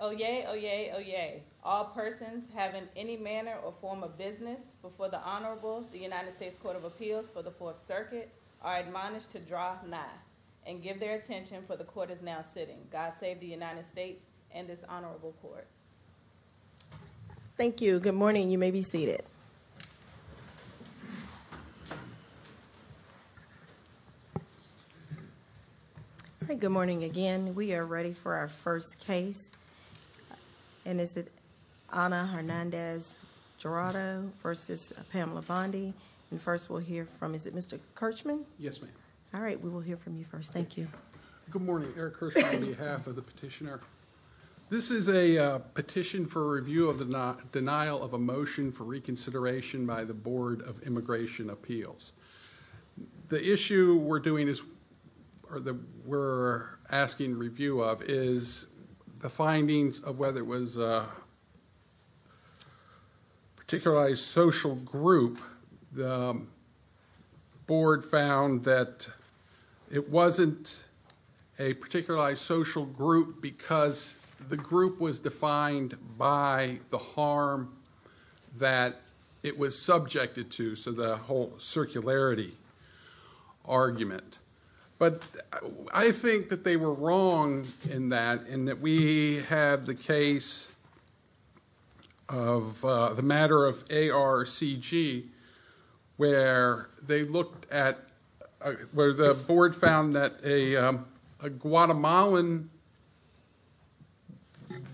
Oyez, oyez, oyez. All persons having any manner or form of business before the Honorable United States Court of Appeals for the Fourth Circuit are admonished to draw nigh and give their attention for the Court is now sitting. God save the United States and this Honorable Court. Thank you. Good morning. You may be seated. Good morning again. We are ready for our first case. And is it Ana Hernandez Guardado v. Pamela Bondi? And first we'll hear from, is it Mr. Kirchman? Yes, ma'am. All right, we will hear from you first. Thank you. Good morning. Eric Kirchman on behalf of the petitioner. This is a petition for review of the denial of a motion for reconsideration by the Board of Immigration Appeals. The issue we're doing is, or that we're asking review of, is the findings of whether it was a particularized social group. The Board found that it wasn't a particularized social group because the group was defined by the harm that it was subjected to, so the whole circularity argument. But I think that they were wrong in that, in that we had the case of the matter of ARCG where they looked at, where the Board found that a Guatemalan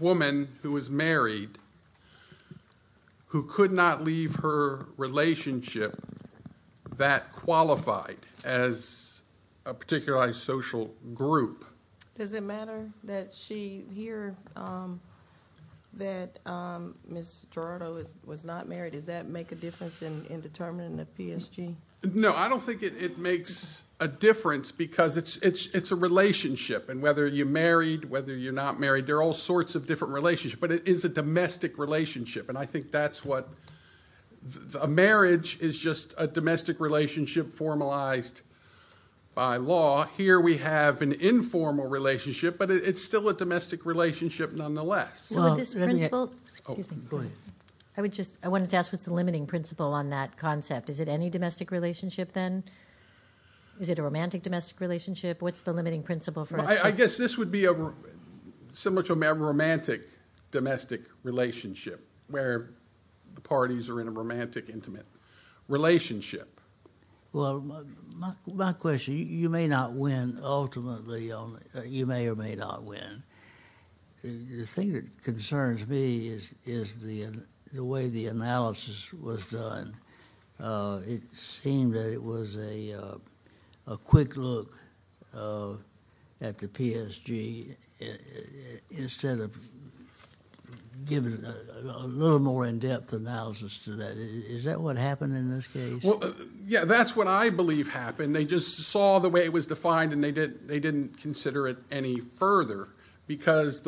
woman who was married, who could not leave her relationship that qualified as a particularized social group. Does it matter that she, here, that Ms. Guardado was not married? Does that make a difference in determining the PSG? No, I don't think it makes a difference because it's a relationship, and whether you're married, whether you're not married, there are all sorts of different relationships, but it is a domestic relationship. And I think that's what, a marriage is just a domestic relationship formalized by law. Here we have an informal relationship, but it's still a domestic relationship nonetheless. I would just, I wanted to ask what's the limiting principle on that concept? Is it any domestic relationship then? Is it a romantic domestic relationship? What's the limiting principle for us? I guess this would be similar to a romantic domestic relationship where the parties are in a romantic intimate relationship. Well, my question, you may not win ultimately, you may or may not win. The thing that concerns me is the way the analysis was done. It seemed that it was a quick look at the PSG instead of giving a little more in-depth analysis to that. Is that what happened in this case? Yeah, that's what I believe happened. They just saw the way it was defined and they didn't consider it any further because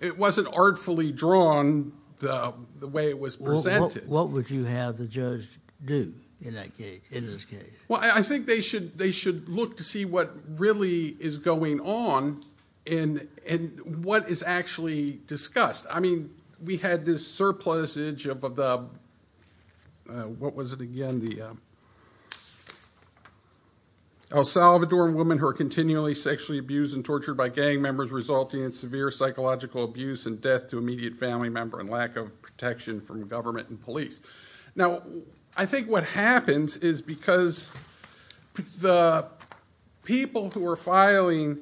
it wasn't artfully drawn the way it was presented. What would you have the judge do in that case, in this case? Well, I think they should look to see what really is going on and what is actually discussed. I mean, we had this surplusage of the, what was it again, the El Salvadoran women who are continually sexually abused and tortured by gang members resulting in severe psychological abuse and death to immediate family member and lack of protection from government and police. Now, I think what happens is because the people who are filing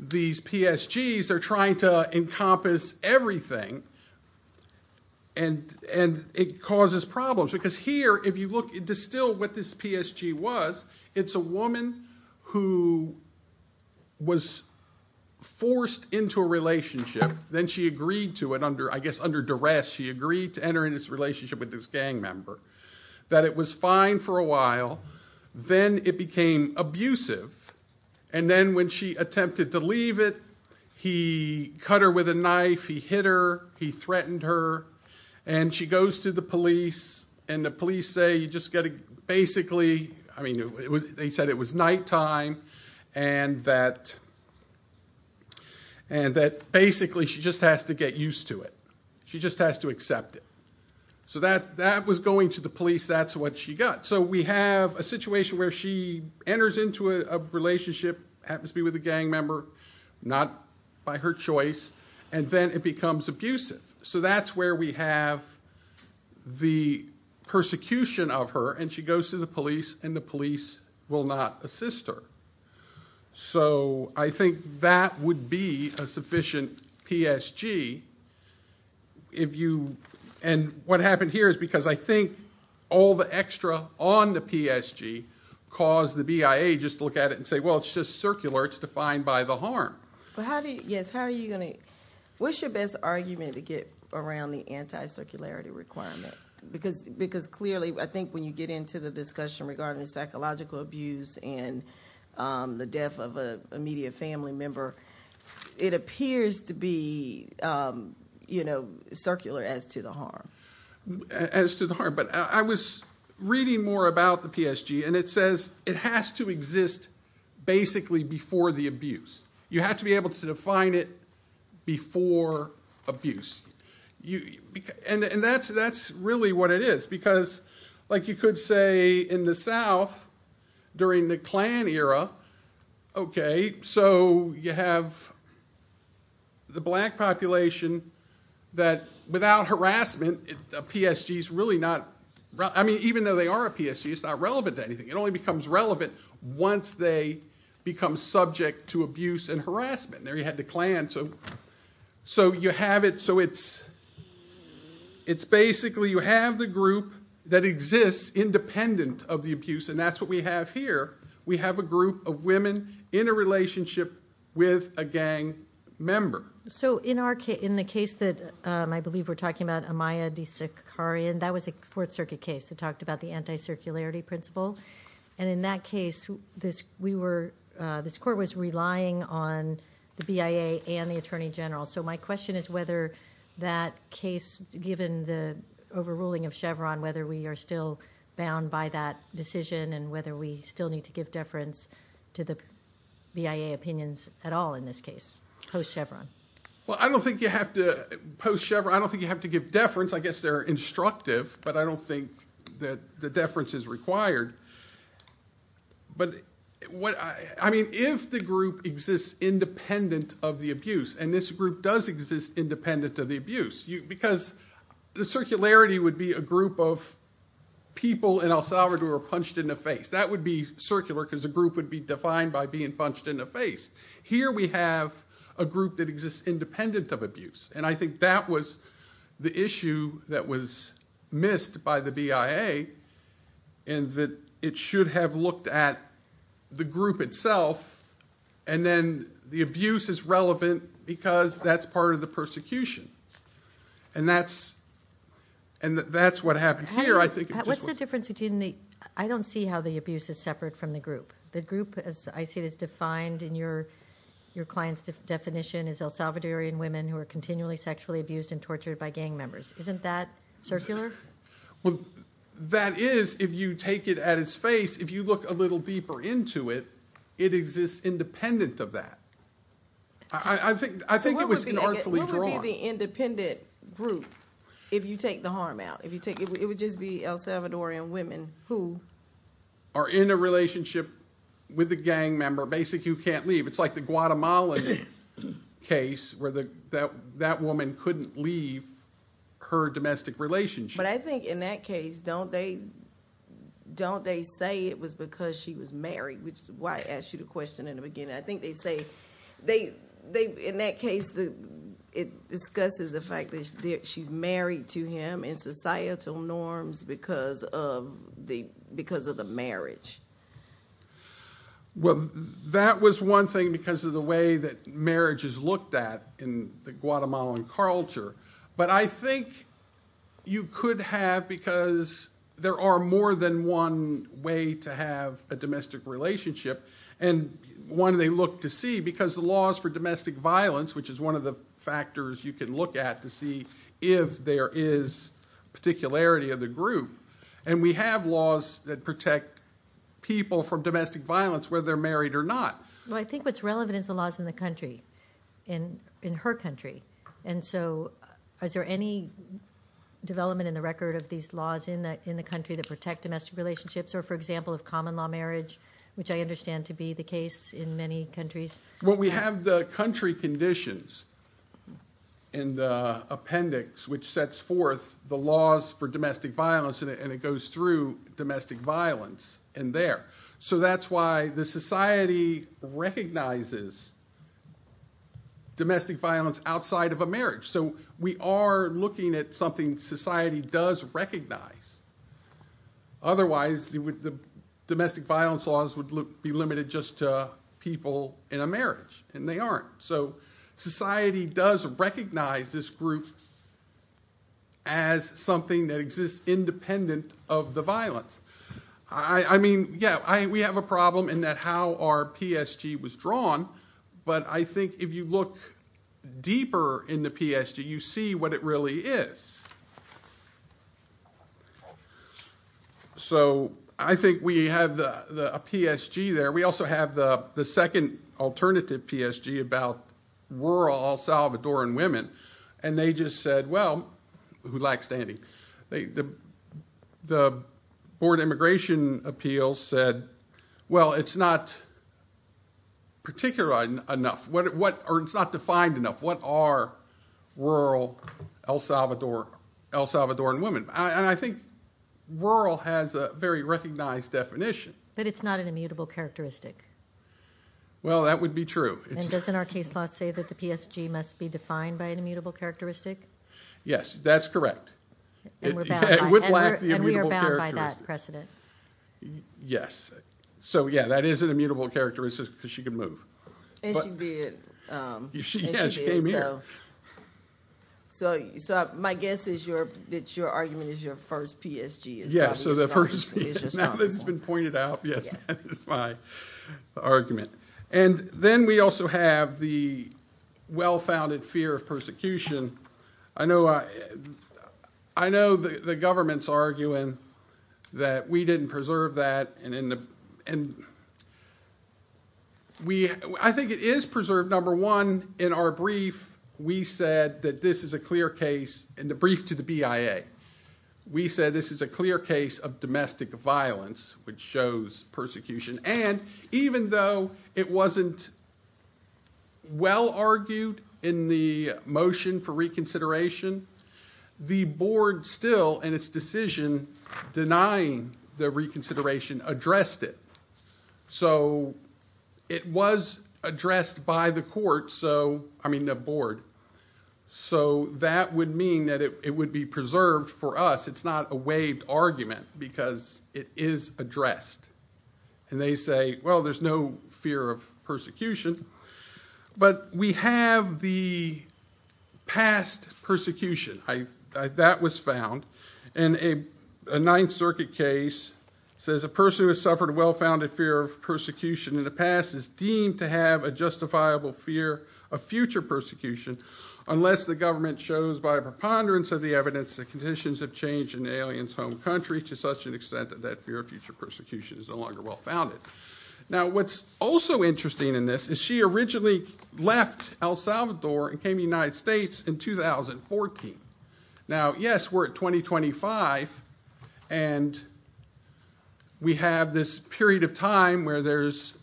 these PSGs are trying to encompass everything and it causes problems because here, if you look and distill what this PSG was, it's a woman who was forced into a relationship. Then she agreed to it under, I guess, under duress. She agreed to enter into this relationship with this gang member, that it was fine for a while. Then it became abusive and then when she attempted to leave it, he cut her with a knife, he hit her, he threatened her and she goes to the police and the police say you just got to basically, I mean, they said it was nighttime and that basically she just has to get used to it. She just has to accept it. So that was going to the police, that's what she got. So we have a situation where she enters into a relationship, happens to be with a gang member, not by her choice, and then it becomes abusive. So that's where we have the persecution of her and she goes to the police and the police will not assist her. So I think that would be a sufficient PSG and what happened here is because I think all the extra on the PSG caused the BIA just to look at it and say, well, it's just circular, it's defined by the harm. Yes, how are you going to, what's your best argument to get around the anti-circularity requirement? Because clearly, I think when you get into the discussion regarding psychological abuse and the death of an immediate family member, it appears to be circular as to the harm. But I was reading more about the PSG and it says it has to exist basically before the abuse. You have to be able to define it before abuse. And that's really what it is because like you could say in the South during the Klan era, okay, so you have the black population that without harassment, a PSG is really not, I mean, even though they are a PSG, it's not relevant to anything. It only becomes relevant once they become subject to abuse and harassment. There you had the Klan, so you have it, so it's basically you have the group that exists independent of the abuse and that's what we have here. We have a group of women in a relationship with a gang member. So in the case that I believe we're talking about, Amaya DeSicari, and that was a Fourth Circuit case that talked about the anti-circularity principle. And in that case, this court was relying on the BIA and the Attorney General. So my question is whether that case, given the overruling of Chevron, whether we are still bound by that decision and whether we still need to give deference to the BIA opinions at all in this case post-Chevron. Well, I don't think you have to post-Chevron. I don't think you have to give deference. I guess they're instructive, but I don't think that the deference is required. But if the group exists independent of the abuse, and this group does exist independent of the abuse, because the circularity would be a group of people in El Salvador punched in the face. That would be circular because a group would be defined by being punched in the face. Here we have a group that exists independent of abuse, and I think that was the issue that was missed by the BIA. And that it should have looked at the group itself, and then the abuse is relevant because that's part of the persecution. And that's what happened here. What's the difference between the – I don't see how the abuse is separate from the group. The group, as I see it, is defined in your client's definition as El Salvadorian women who are continually sexually abused and tortured by gang members. Isn't that circular? Well, that is if you take it at its face. If you look a little deeper into it, it exists independent of that. I think it was inartfully drawn. What would be the independent group if you take the harm out? It would just be El Salvadorian women who? Are in a relationship with a gang member, basically who can't leave. It's like the Guatemala case where that woman couldn't leave her domestic relationship. But I think in that case, don't they say it was because she was married, which is why I asked you the question in the beginning. I think they say – in that case, it discusses the fact that she's married to him in societal norms because of the marriage. Well, that was one thing because of the way that marriage is looked at in the Guatemalan culture. But I think you could have, because there are more than one way to have a domestic relationship, and one they look to see because the laws for domestic violence, which is one of the factors you can look at to see if there is particularity of the group. And we have laws that protect people from domestic violence, whether they're married or not. Well, I think what's relevant is the laws in the country, in her country. And so is there any development in the record of these laws in the country that protect domestic relationships? Or, for example, of common law marriage, which I understand to be the case in many countries? Well, we have the country conditions in the appendix which sets forth the laws for domestic violence, and it goes through domestic violence in there. So that's why the society recognizes domestic violence outside of a marriage. So we are looking at something society does recognize. Otherwise, the domestic violence laws would be limited just to people in a marriage, and they aren't. So society does recognize this group as something that exists independent of the violence. I mean, yeah, we have a problem in that how our PSG was drawn, but I think if you look deeper in the PSG, you see what it really is. So I think we have a PSG there. We also have the second alternative PSG about rural El Salvadoran women, and they just said, well, who lacks standing. The Board of Immigration Appeals said, well, it's not particular enough, or it's not defined enough. What are rural El Salvadoran women? And I think rural has a very recognized definition. But it's not an immutable characteristic. Well, that would be true. And doesn't our case law say that the PSG must be defined by an immutable characteristic? Yes, that's correct. And we're bound by that precedent. Yes. So, yeah, that is an immutable characteristic because she can move. And she did. Yeah, she came here. So my guess is that your argument is your first PSG. Yeah, so the first PSG. Now that it's been pointed out, yes, that is my argument. And then we also have the well-founded fear of persecution. I know the government's arguing that we didn't preserve that. And I think it is preserved. Number one, in our brief, we said that this is a clear case. In the brief to the BIA, we said this is a clear case of domestic violence, which shows persecution. And even though it wasn't well-argued in the motion for reconsideration, the board still, in its decision, denying the reconsideration, addressed it. So it was addressed by the court, so, I mean the board. So that would mean that it would be preserved for us. It's not a waived argument because it is addressed. And they say, well, there's no fear of persecution. But we have the past persecution. That was found. And a Ninth Circuit case says a person who has suffered a well-founded fear of persecution in the past is deemed to have a justifiable fear of future persecution, unless the government shows by a preponderance of the evidence that conditions have changed in an alien's home country to such an extent that that fear of future persecution is no longer well-founded. Now, what's also interesting in this is she originally left El Salvador and came to the United States in 2014. Now, yes, we're at 2025. And we have this period of time where there's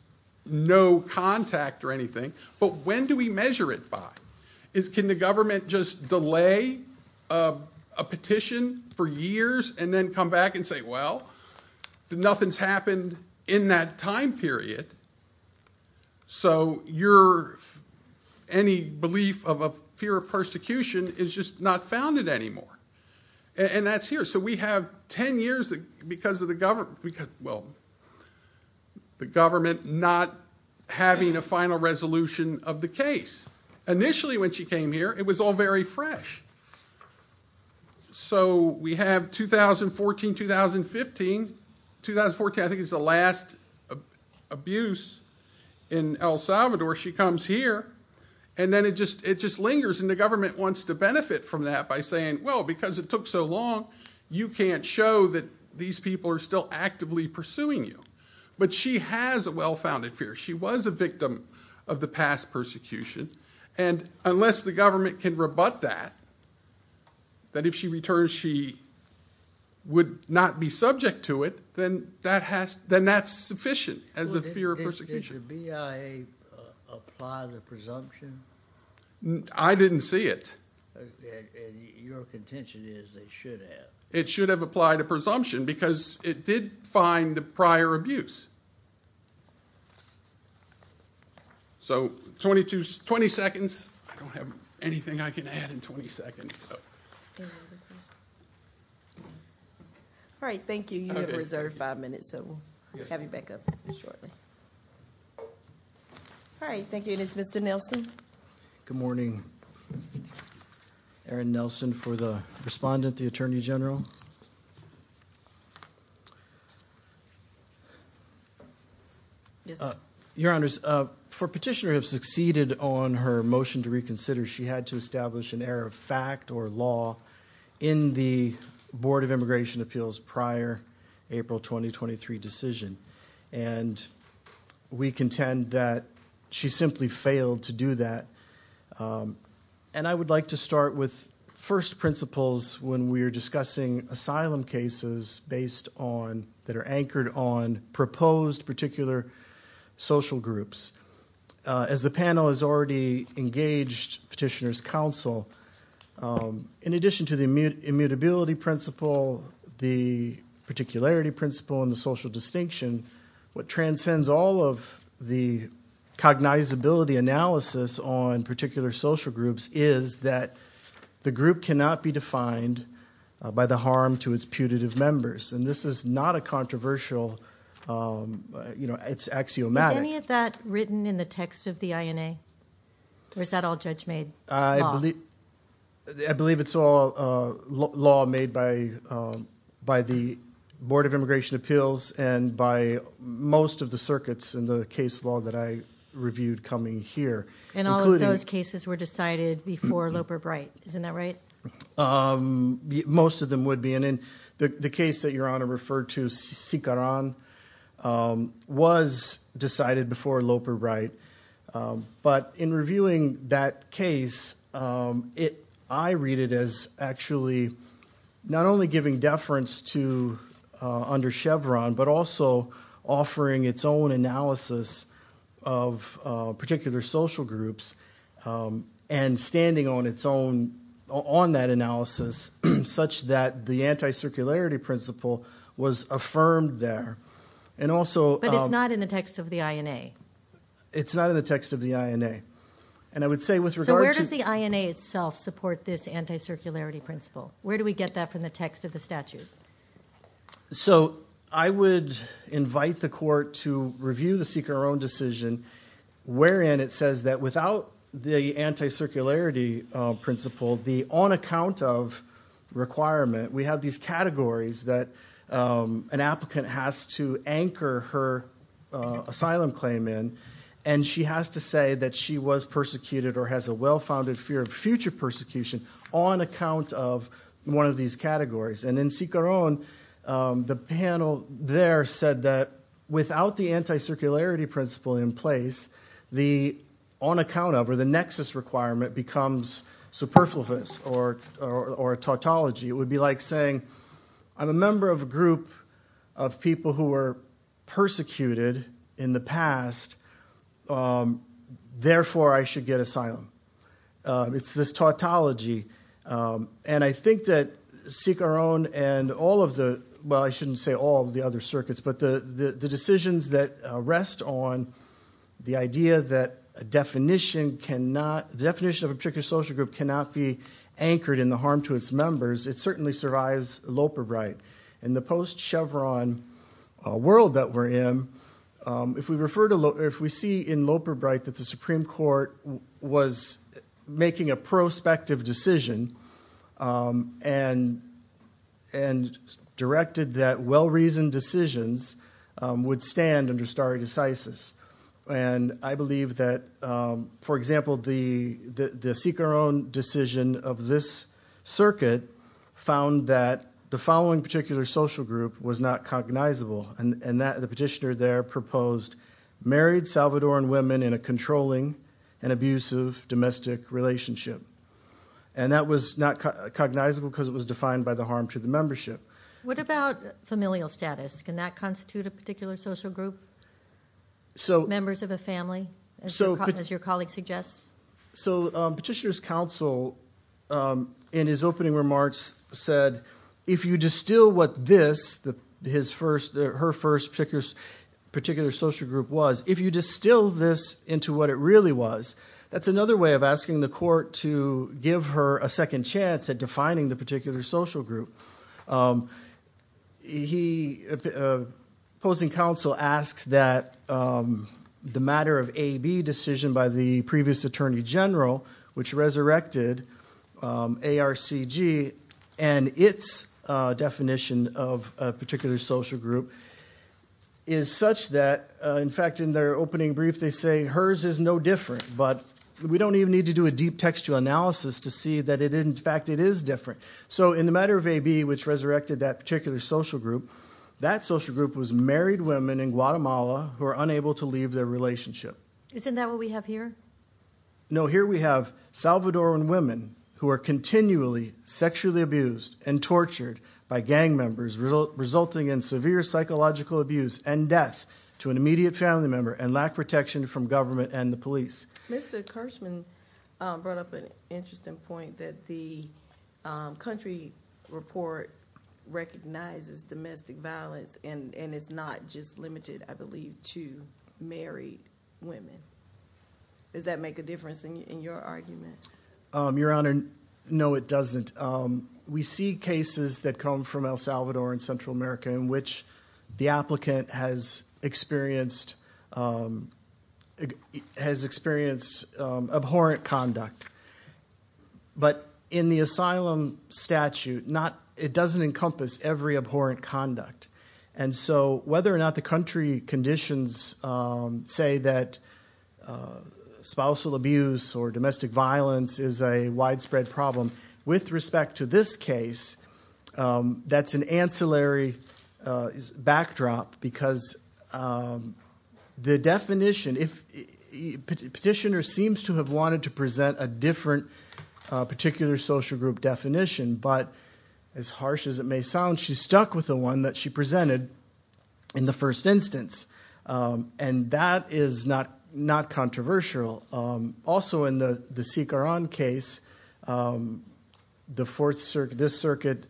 no contact or anything. But when do we measure it by? Can the government just delay a petition for years and then come back and say, well, nothing's happened in that time period? So your any belief of a fear of persecution is just not founded anymore. And that's here. So we have 10 years because of the government not having a final resolution of the case. Initially, when she came here, it was all very fresh. So we have 2014, 2015. 2014, I think, is the last abuse in El Salvador. She comes here. And then it just lingers. And the government wants to benefit from that by saying, well, because it took so long, you can't show that these people are still actively pursuing you. But she has a well-founded fear. She was a victim of the past persecution. And unless the government can rebut that, that if she returns she would not be subject to it, then that's sufficient as a fear of persecution. Did the BIA apply the presumption? I didn't see it. And your contention is they should have. It should have applied a presumption because it did find the prior abuse. So 20 seconds. I don't have anything I can add in 20 seconds. All right, thank you. You have a reserved five minutes, so we'll have you back up shortly. All right, thank you. And it's Mr. Nelson. Good morning. Aaron Nelson for the respondent, the Attorney General. Your Honor, for petitioner have succeeded on her motion to reconsider, she had to establish an error of fact or law in the Board of Immigration Appeals prior April 2023 decision. And we contend that she simply failed to do that. And I would like to start with first principles when we are discussing asylum cases based on, that are anchored on, proposed particular social groups. As the panel has already engaged petitioner's counsel, in addition to the immutability principle, the particularity principle, and the social distinction, what transcends all of the cognizability analysis on particular social groups is that the group cannot be defined by the harm to its putative members. And this is not a controversial, it's axiomatic. Was any of that written in the text of the INA? Or is that all judge made? I believe it's all law made by the Board of Immigration Appeals and by most of the circuits in the case law that I reviewed coming here. And all of those cases were decided before Loeb or Bright, isn't that right? Most of them would be. And in the case that Your Honor referred to, Sikaran, was decided before Loeb or Bright. But in reviewing that case, I read it as actually not only giving deference to under Chevron, but also offering its own analysis of particular social groups. And standing on its own, on that analysis, such that the anti-circularity principle was affirmed there. But it's not in the text of the INA? It's not in the text of the INA. And I would say with regard to- So where does the INA itself support this anti-circularity principle? Where do we get that from the text of the statute? So I would invite the court to review the Sikaran decision wherein it says that without the anti-circularity principle, the on account of requirement, we have these categories that an applicant has to anchor her asylum claim in. And she has to say that she was persecuted or has a well-founded fear of future persecution on account of one of these categories. And in Sikaran, the panel there said that without the anti-circularity principle in place, the on account of or the nexus requirement becomes superfluous or a tautology. It would be like saying I'm a member of a group of people who were persecuted in the past. Therefore, I should get asylum. It's this tautology. And I think that Sikaran and all of the- Well, I shouldn't say all of the other circuits, but the decisions that rest on the idea that a definition cannot- The definition of a particular social group cannot be anchored in the harm to its members. It certainly survives Loperbright. In the post-Chevron world that we're in, if we see in Loperbright that the Supreme Court was making a prospective decision and directed that well-reasoned decisions would stand under stare decisis. And I believe that, for example, the Sikaran decision of this circuit found that the following particular social group was not cognizable. And the petitioner there proposed married Salvadoran women in a controlling and abusive domestic relationship. And that was not cognizable because it was defined by the harm to the membership. What about familial status? Can that constitute a particular social group, members of a family, as your colleague suggests? So petitioner's counsel in his opening remarks said, if you distill what this, her first particular social group was, if you distill this into what it really was, that's another way of asking the court to give her a second chance at defining the particular social group. He, opposing counsel, asks that the matter of AB decision by the previous attorney general, which resurrected ARCG and its definition of a particular social group, is such that, in fact, in their opening brief, they say hers is no different. But we don't even need to do a deep textual analysis to see that, in fact, it is different. So in the matter of AB, which resurrected that particular social group, that social group was married women in Guatemala who are unable to leave their relationship. Isn't that what we have here? No, here we have Salvadoran women who are continually sexually abused and tortured by gang members, resulting in severe psychological abuse and death to an immediate family member and lack protection from government and the police. Mr. Kirschman brought up an interesting point that the country report recognizes domestic violence and it's not just limited, I believe, to married women. Does that make a difference in your argument? Your Honor, no, it doesn't. We see cases that come from El Salvador and Central America in which the applicant has experienced abhorrent conduct. But in the asylum statute, it doesn't encompass every abhorrent conduct. And so whether or not the country conditions say that spousal abuse or domestic violence is a widespread problem with respect to this case, that's an ancillary backdrop because the definition, petitioner seems to have wanted to present a different particular social group definition, but as harsh as it may sound, she's stuck with the one that she presented in the first instance. And that is not controversial. Also in the Sikharon case, this circuit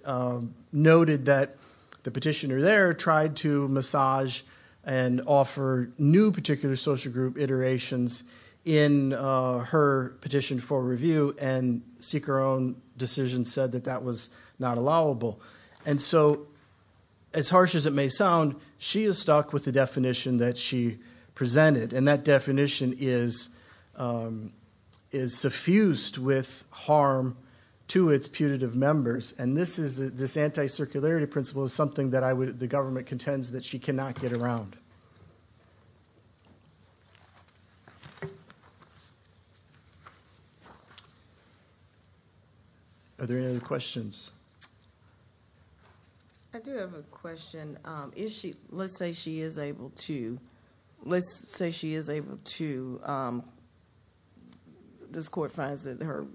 noted that the petitioner there tried to massage and offer new particular social group iterations in her petition for review and Sikharon's decision said that that was not allowable. And so as harsh as it may sound, she is stuck with the definition that she presented. And that definition is suffused with harm to its putative members. And this anti-circularity principle is something that the government contends that she cannot get around. Are there any other questions? I do have a question. Let's say she is able to, let's say she is able to, this court finds that her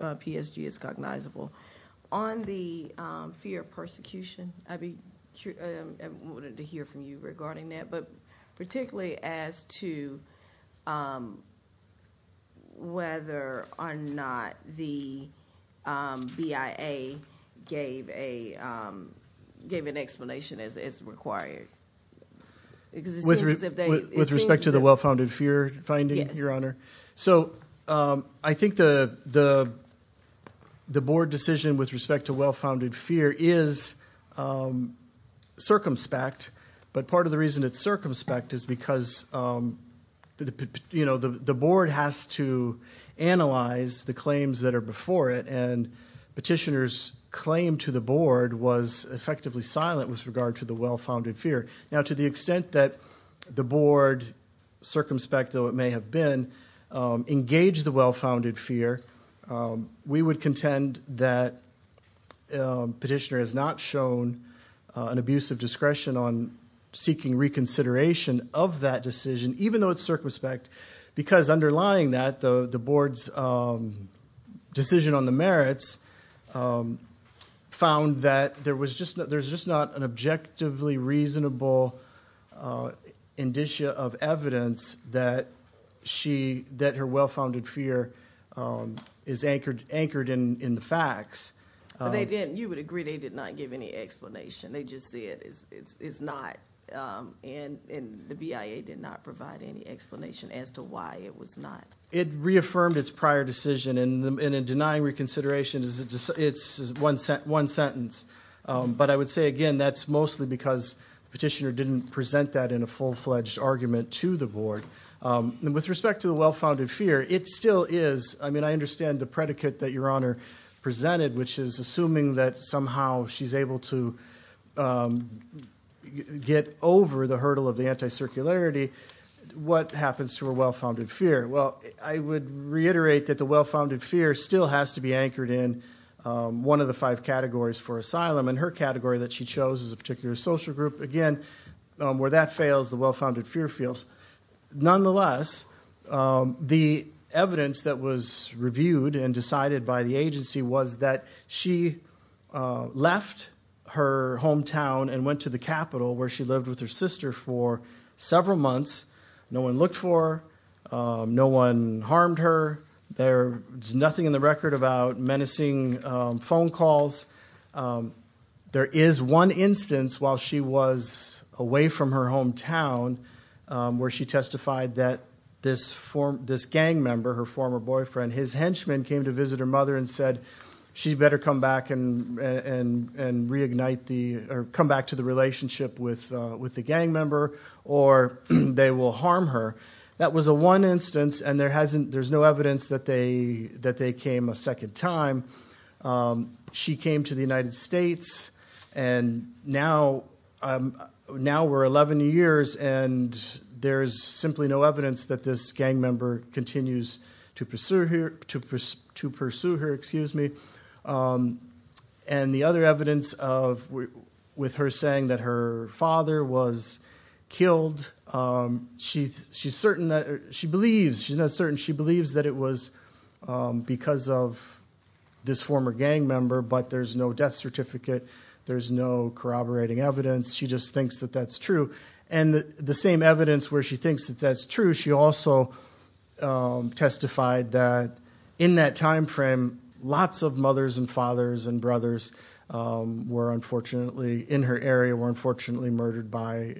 PSG is cognizable. On the fear of persecution, I wanted to hear from you regarding that, but particularly as to whether or not the BIA gave an explanation as required. With respect to the well-founded fear finding, Your Honor? So I think the board decision with respect to well-founded fear is circumspect, but part of the reason it's circumspect is because the board has to analyze the claims that are before it and petitioner's claim to the board was effectively silent with regard to the well-founded fear. Now to the extent that the board, circumspect though it may have been, engaged the well-founded fear, we would contend that petitioner has not shown an abuse of discretion on seeking reconsideration of that decision, even though it's circumspect, because underlying that, the board's decision on the merits found that there was just not an objectively reasonable indicia of evidence that her well-founded fear is anchored in the facts. You would agree they did not give any explanation. They just said it's not, and the BIA did not provide any explanation as to why it was not. It reaffirmed its prior decision, and in denying reconsideration, it's one sentence. But I would say, again, that's mostly because petitioner didn't present that in a full-fledged argument to the board. With respect to the well-founded fear, it still is. I mean, I understand the predicate that Your Honor presented, which is assuming that somehow she's able to get over the hurdle of the anti-circularity. What happens to her well-founded fear? Well, I would reiterate that the well-founded fear still has to be anchored in one of the five categories for asylum, and her category that she chose is a particular social group. Again, where that fails, the well-founded fear fails. Nonetheless, the evidence that was reviewed and decided by the agency was that she left her hometown and went to the capital where she lived with her sister for several months. No one looked for her. No one harmed her. There's nothing in the record about menacing phone calls. There is one instance while she was away from her hometown where she testified that this gang member, her former boyfriend, his henchman, came to visit her mother and said, she better come back to the relationship with the gang member or they will harm her. That was the one instance, and there's no evidence that they came a second time. She came to the United States, and now we're 11 years, and there's simply no evidence that this gang member continues to pursue her. The other evidence with her saying that her father was killed, she's not certain she believes that it was because of this former gang member, but there's no death certificate. There's no corroborating evidence. She just thinks that that's true, and the same evidence where she thinks that that's true, she also testified that in that time frame, lots of mothers and fathers and brothers in her area were unfortunately murdered by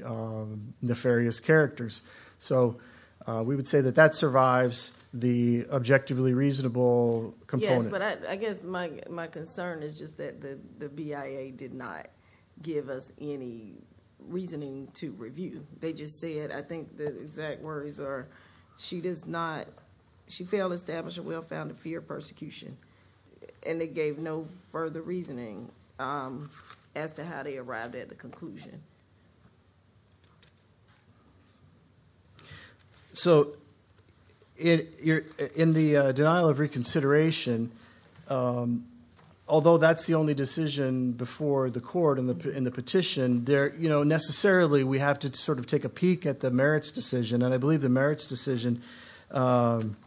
nefarious characters. So we would say that that survives the objectively reasonable component. But I guess my concern is just that the BIA did not give us any reasoning to review. They just said, I think the exact words are, she does not, she failed to establish a well-founded fear of persecution, and they gave no further reasoning as to how they arrived at the conclusion. So in the denial of reconsideration, although that's the only decision before the court in the petition, necessarily we have to sort of take a peek at the merits decision, and I believe the merits decision, the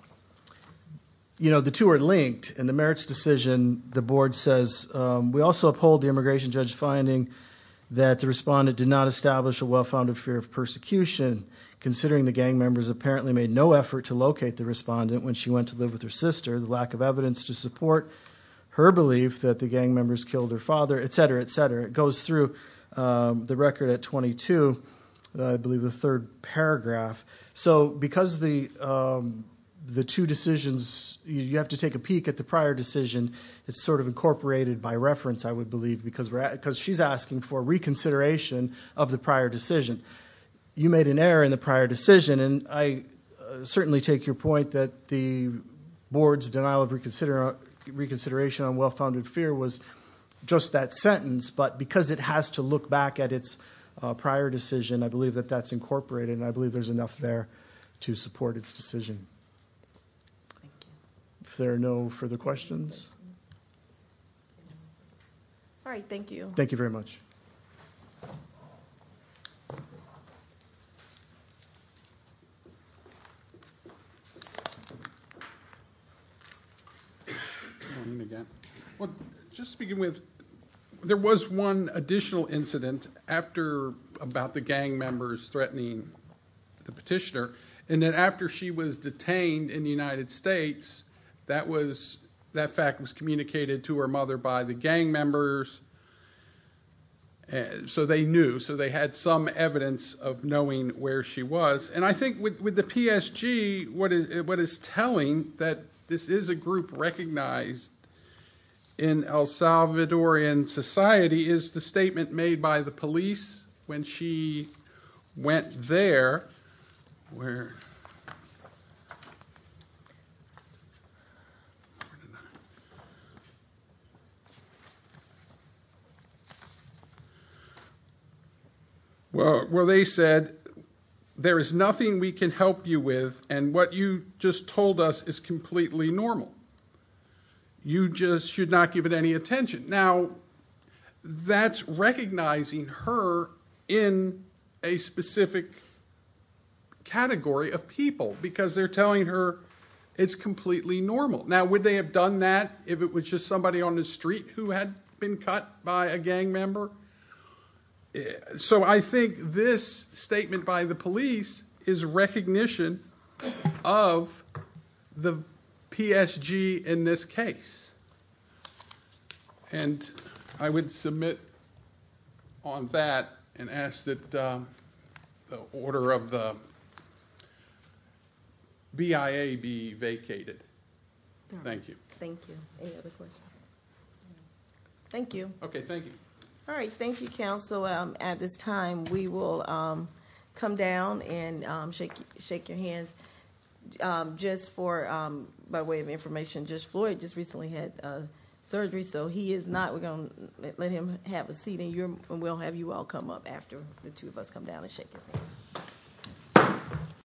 two are linked. In the merits decision, the board says, we also uphold the immigration judge's finding that the respondent did not establish a well-founded fear of persecution, considering the gang members apparently made no effort to locate the respondent when she went to live with her sister, the lack of evidence to support her belief that the gang members killed her father, et cetera, et cetera. It goes through the record at 22, I believe the third paragraph. So because the two decisions, you have to take a peek at the prior decision. It's sort of incorporated by reference, I would believe, because she's asking for reconsideration of the prior decision. You made an error in the prior decision, and I certainly take your point that the board's denial of reconsideration on well-founded fear was just that sentence, but because it has to look back at its prior decision, I believe that that's incorporated, and I believe there's enough there to support its decision. Thank you. If there are no further questions. All right, thank you. Thank you very much. Just to begin with, there was one additional incident about the gang members threatening the petitioner, and that after she was detained in the United States, that fact was communicated to her mother by the gang members, so they knew, so they had some evidence of knowing where she was, and I think with the PSG, what is telling that this is a group recognized in El Salvadorian society is the statement made by the police when she went there where they said, there is nothing we can help you with, and what you just told us is completely normal. You just should not give it any attention. Now, that's recognizing her in a specific category of people because they're telling her it's completely normal. Now, would they have done that if it was just somebody on the street who had been cut by a gang member? So I think this statement by the police is recognition of the PSG in this case, and I would submit on that and ask that the order of the BIA be vacated. Thank you. Thank you. Any other questions? Thank you. Okay, thank you. All right, thank you, counsel. At this time, we will come down and shake your hands. Just for, by way of information, Judge Floyd just recently had surgery, so he is not. We're going to let him have a seat, and we'll have you all come up after the two of us come down and shake his hand.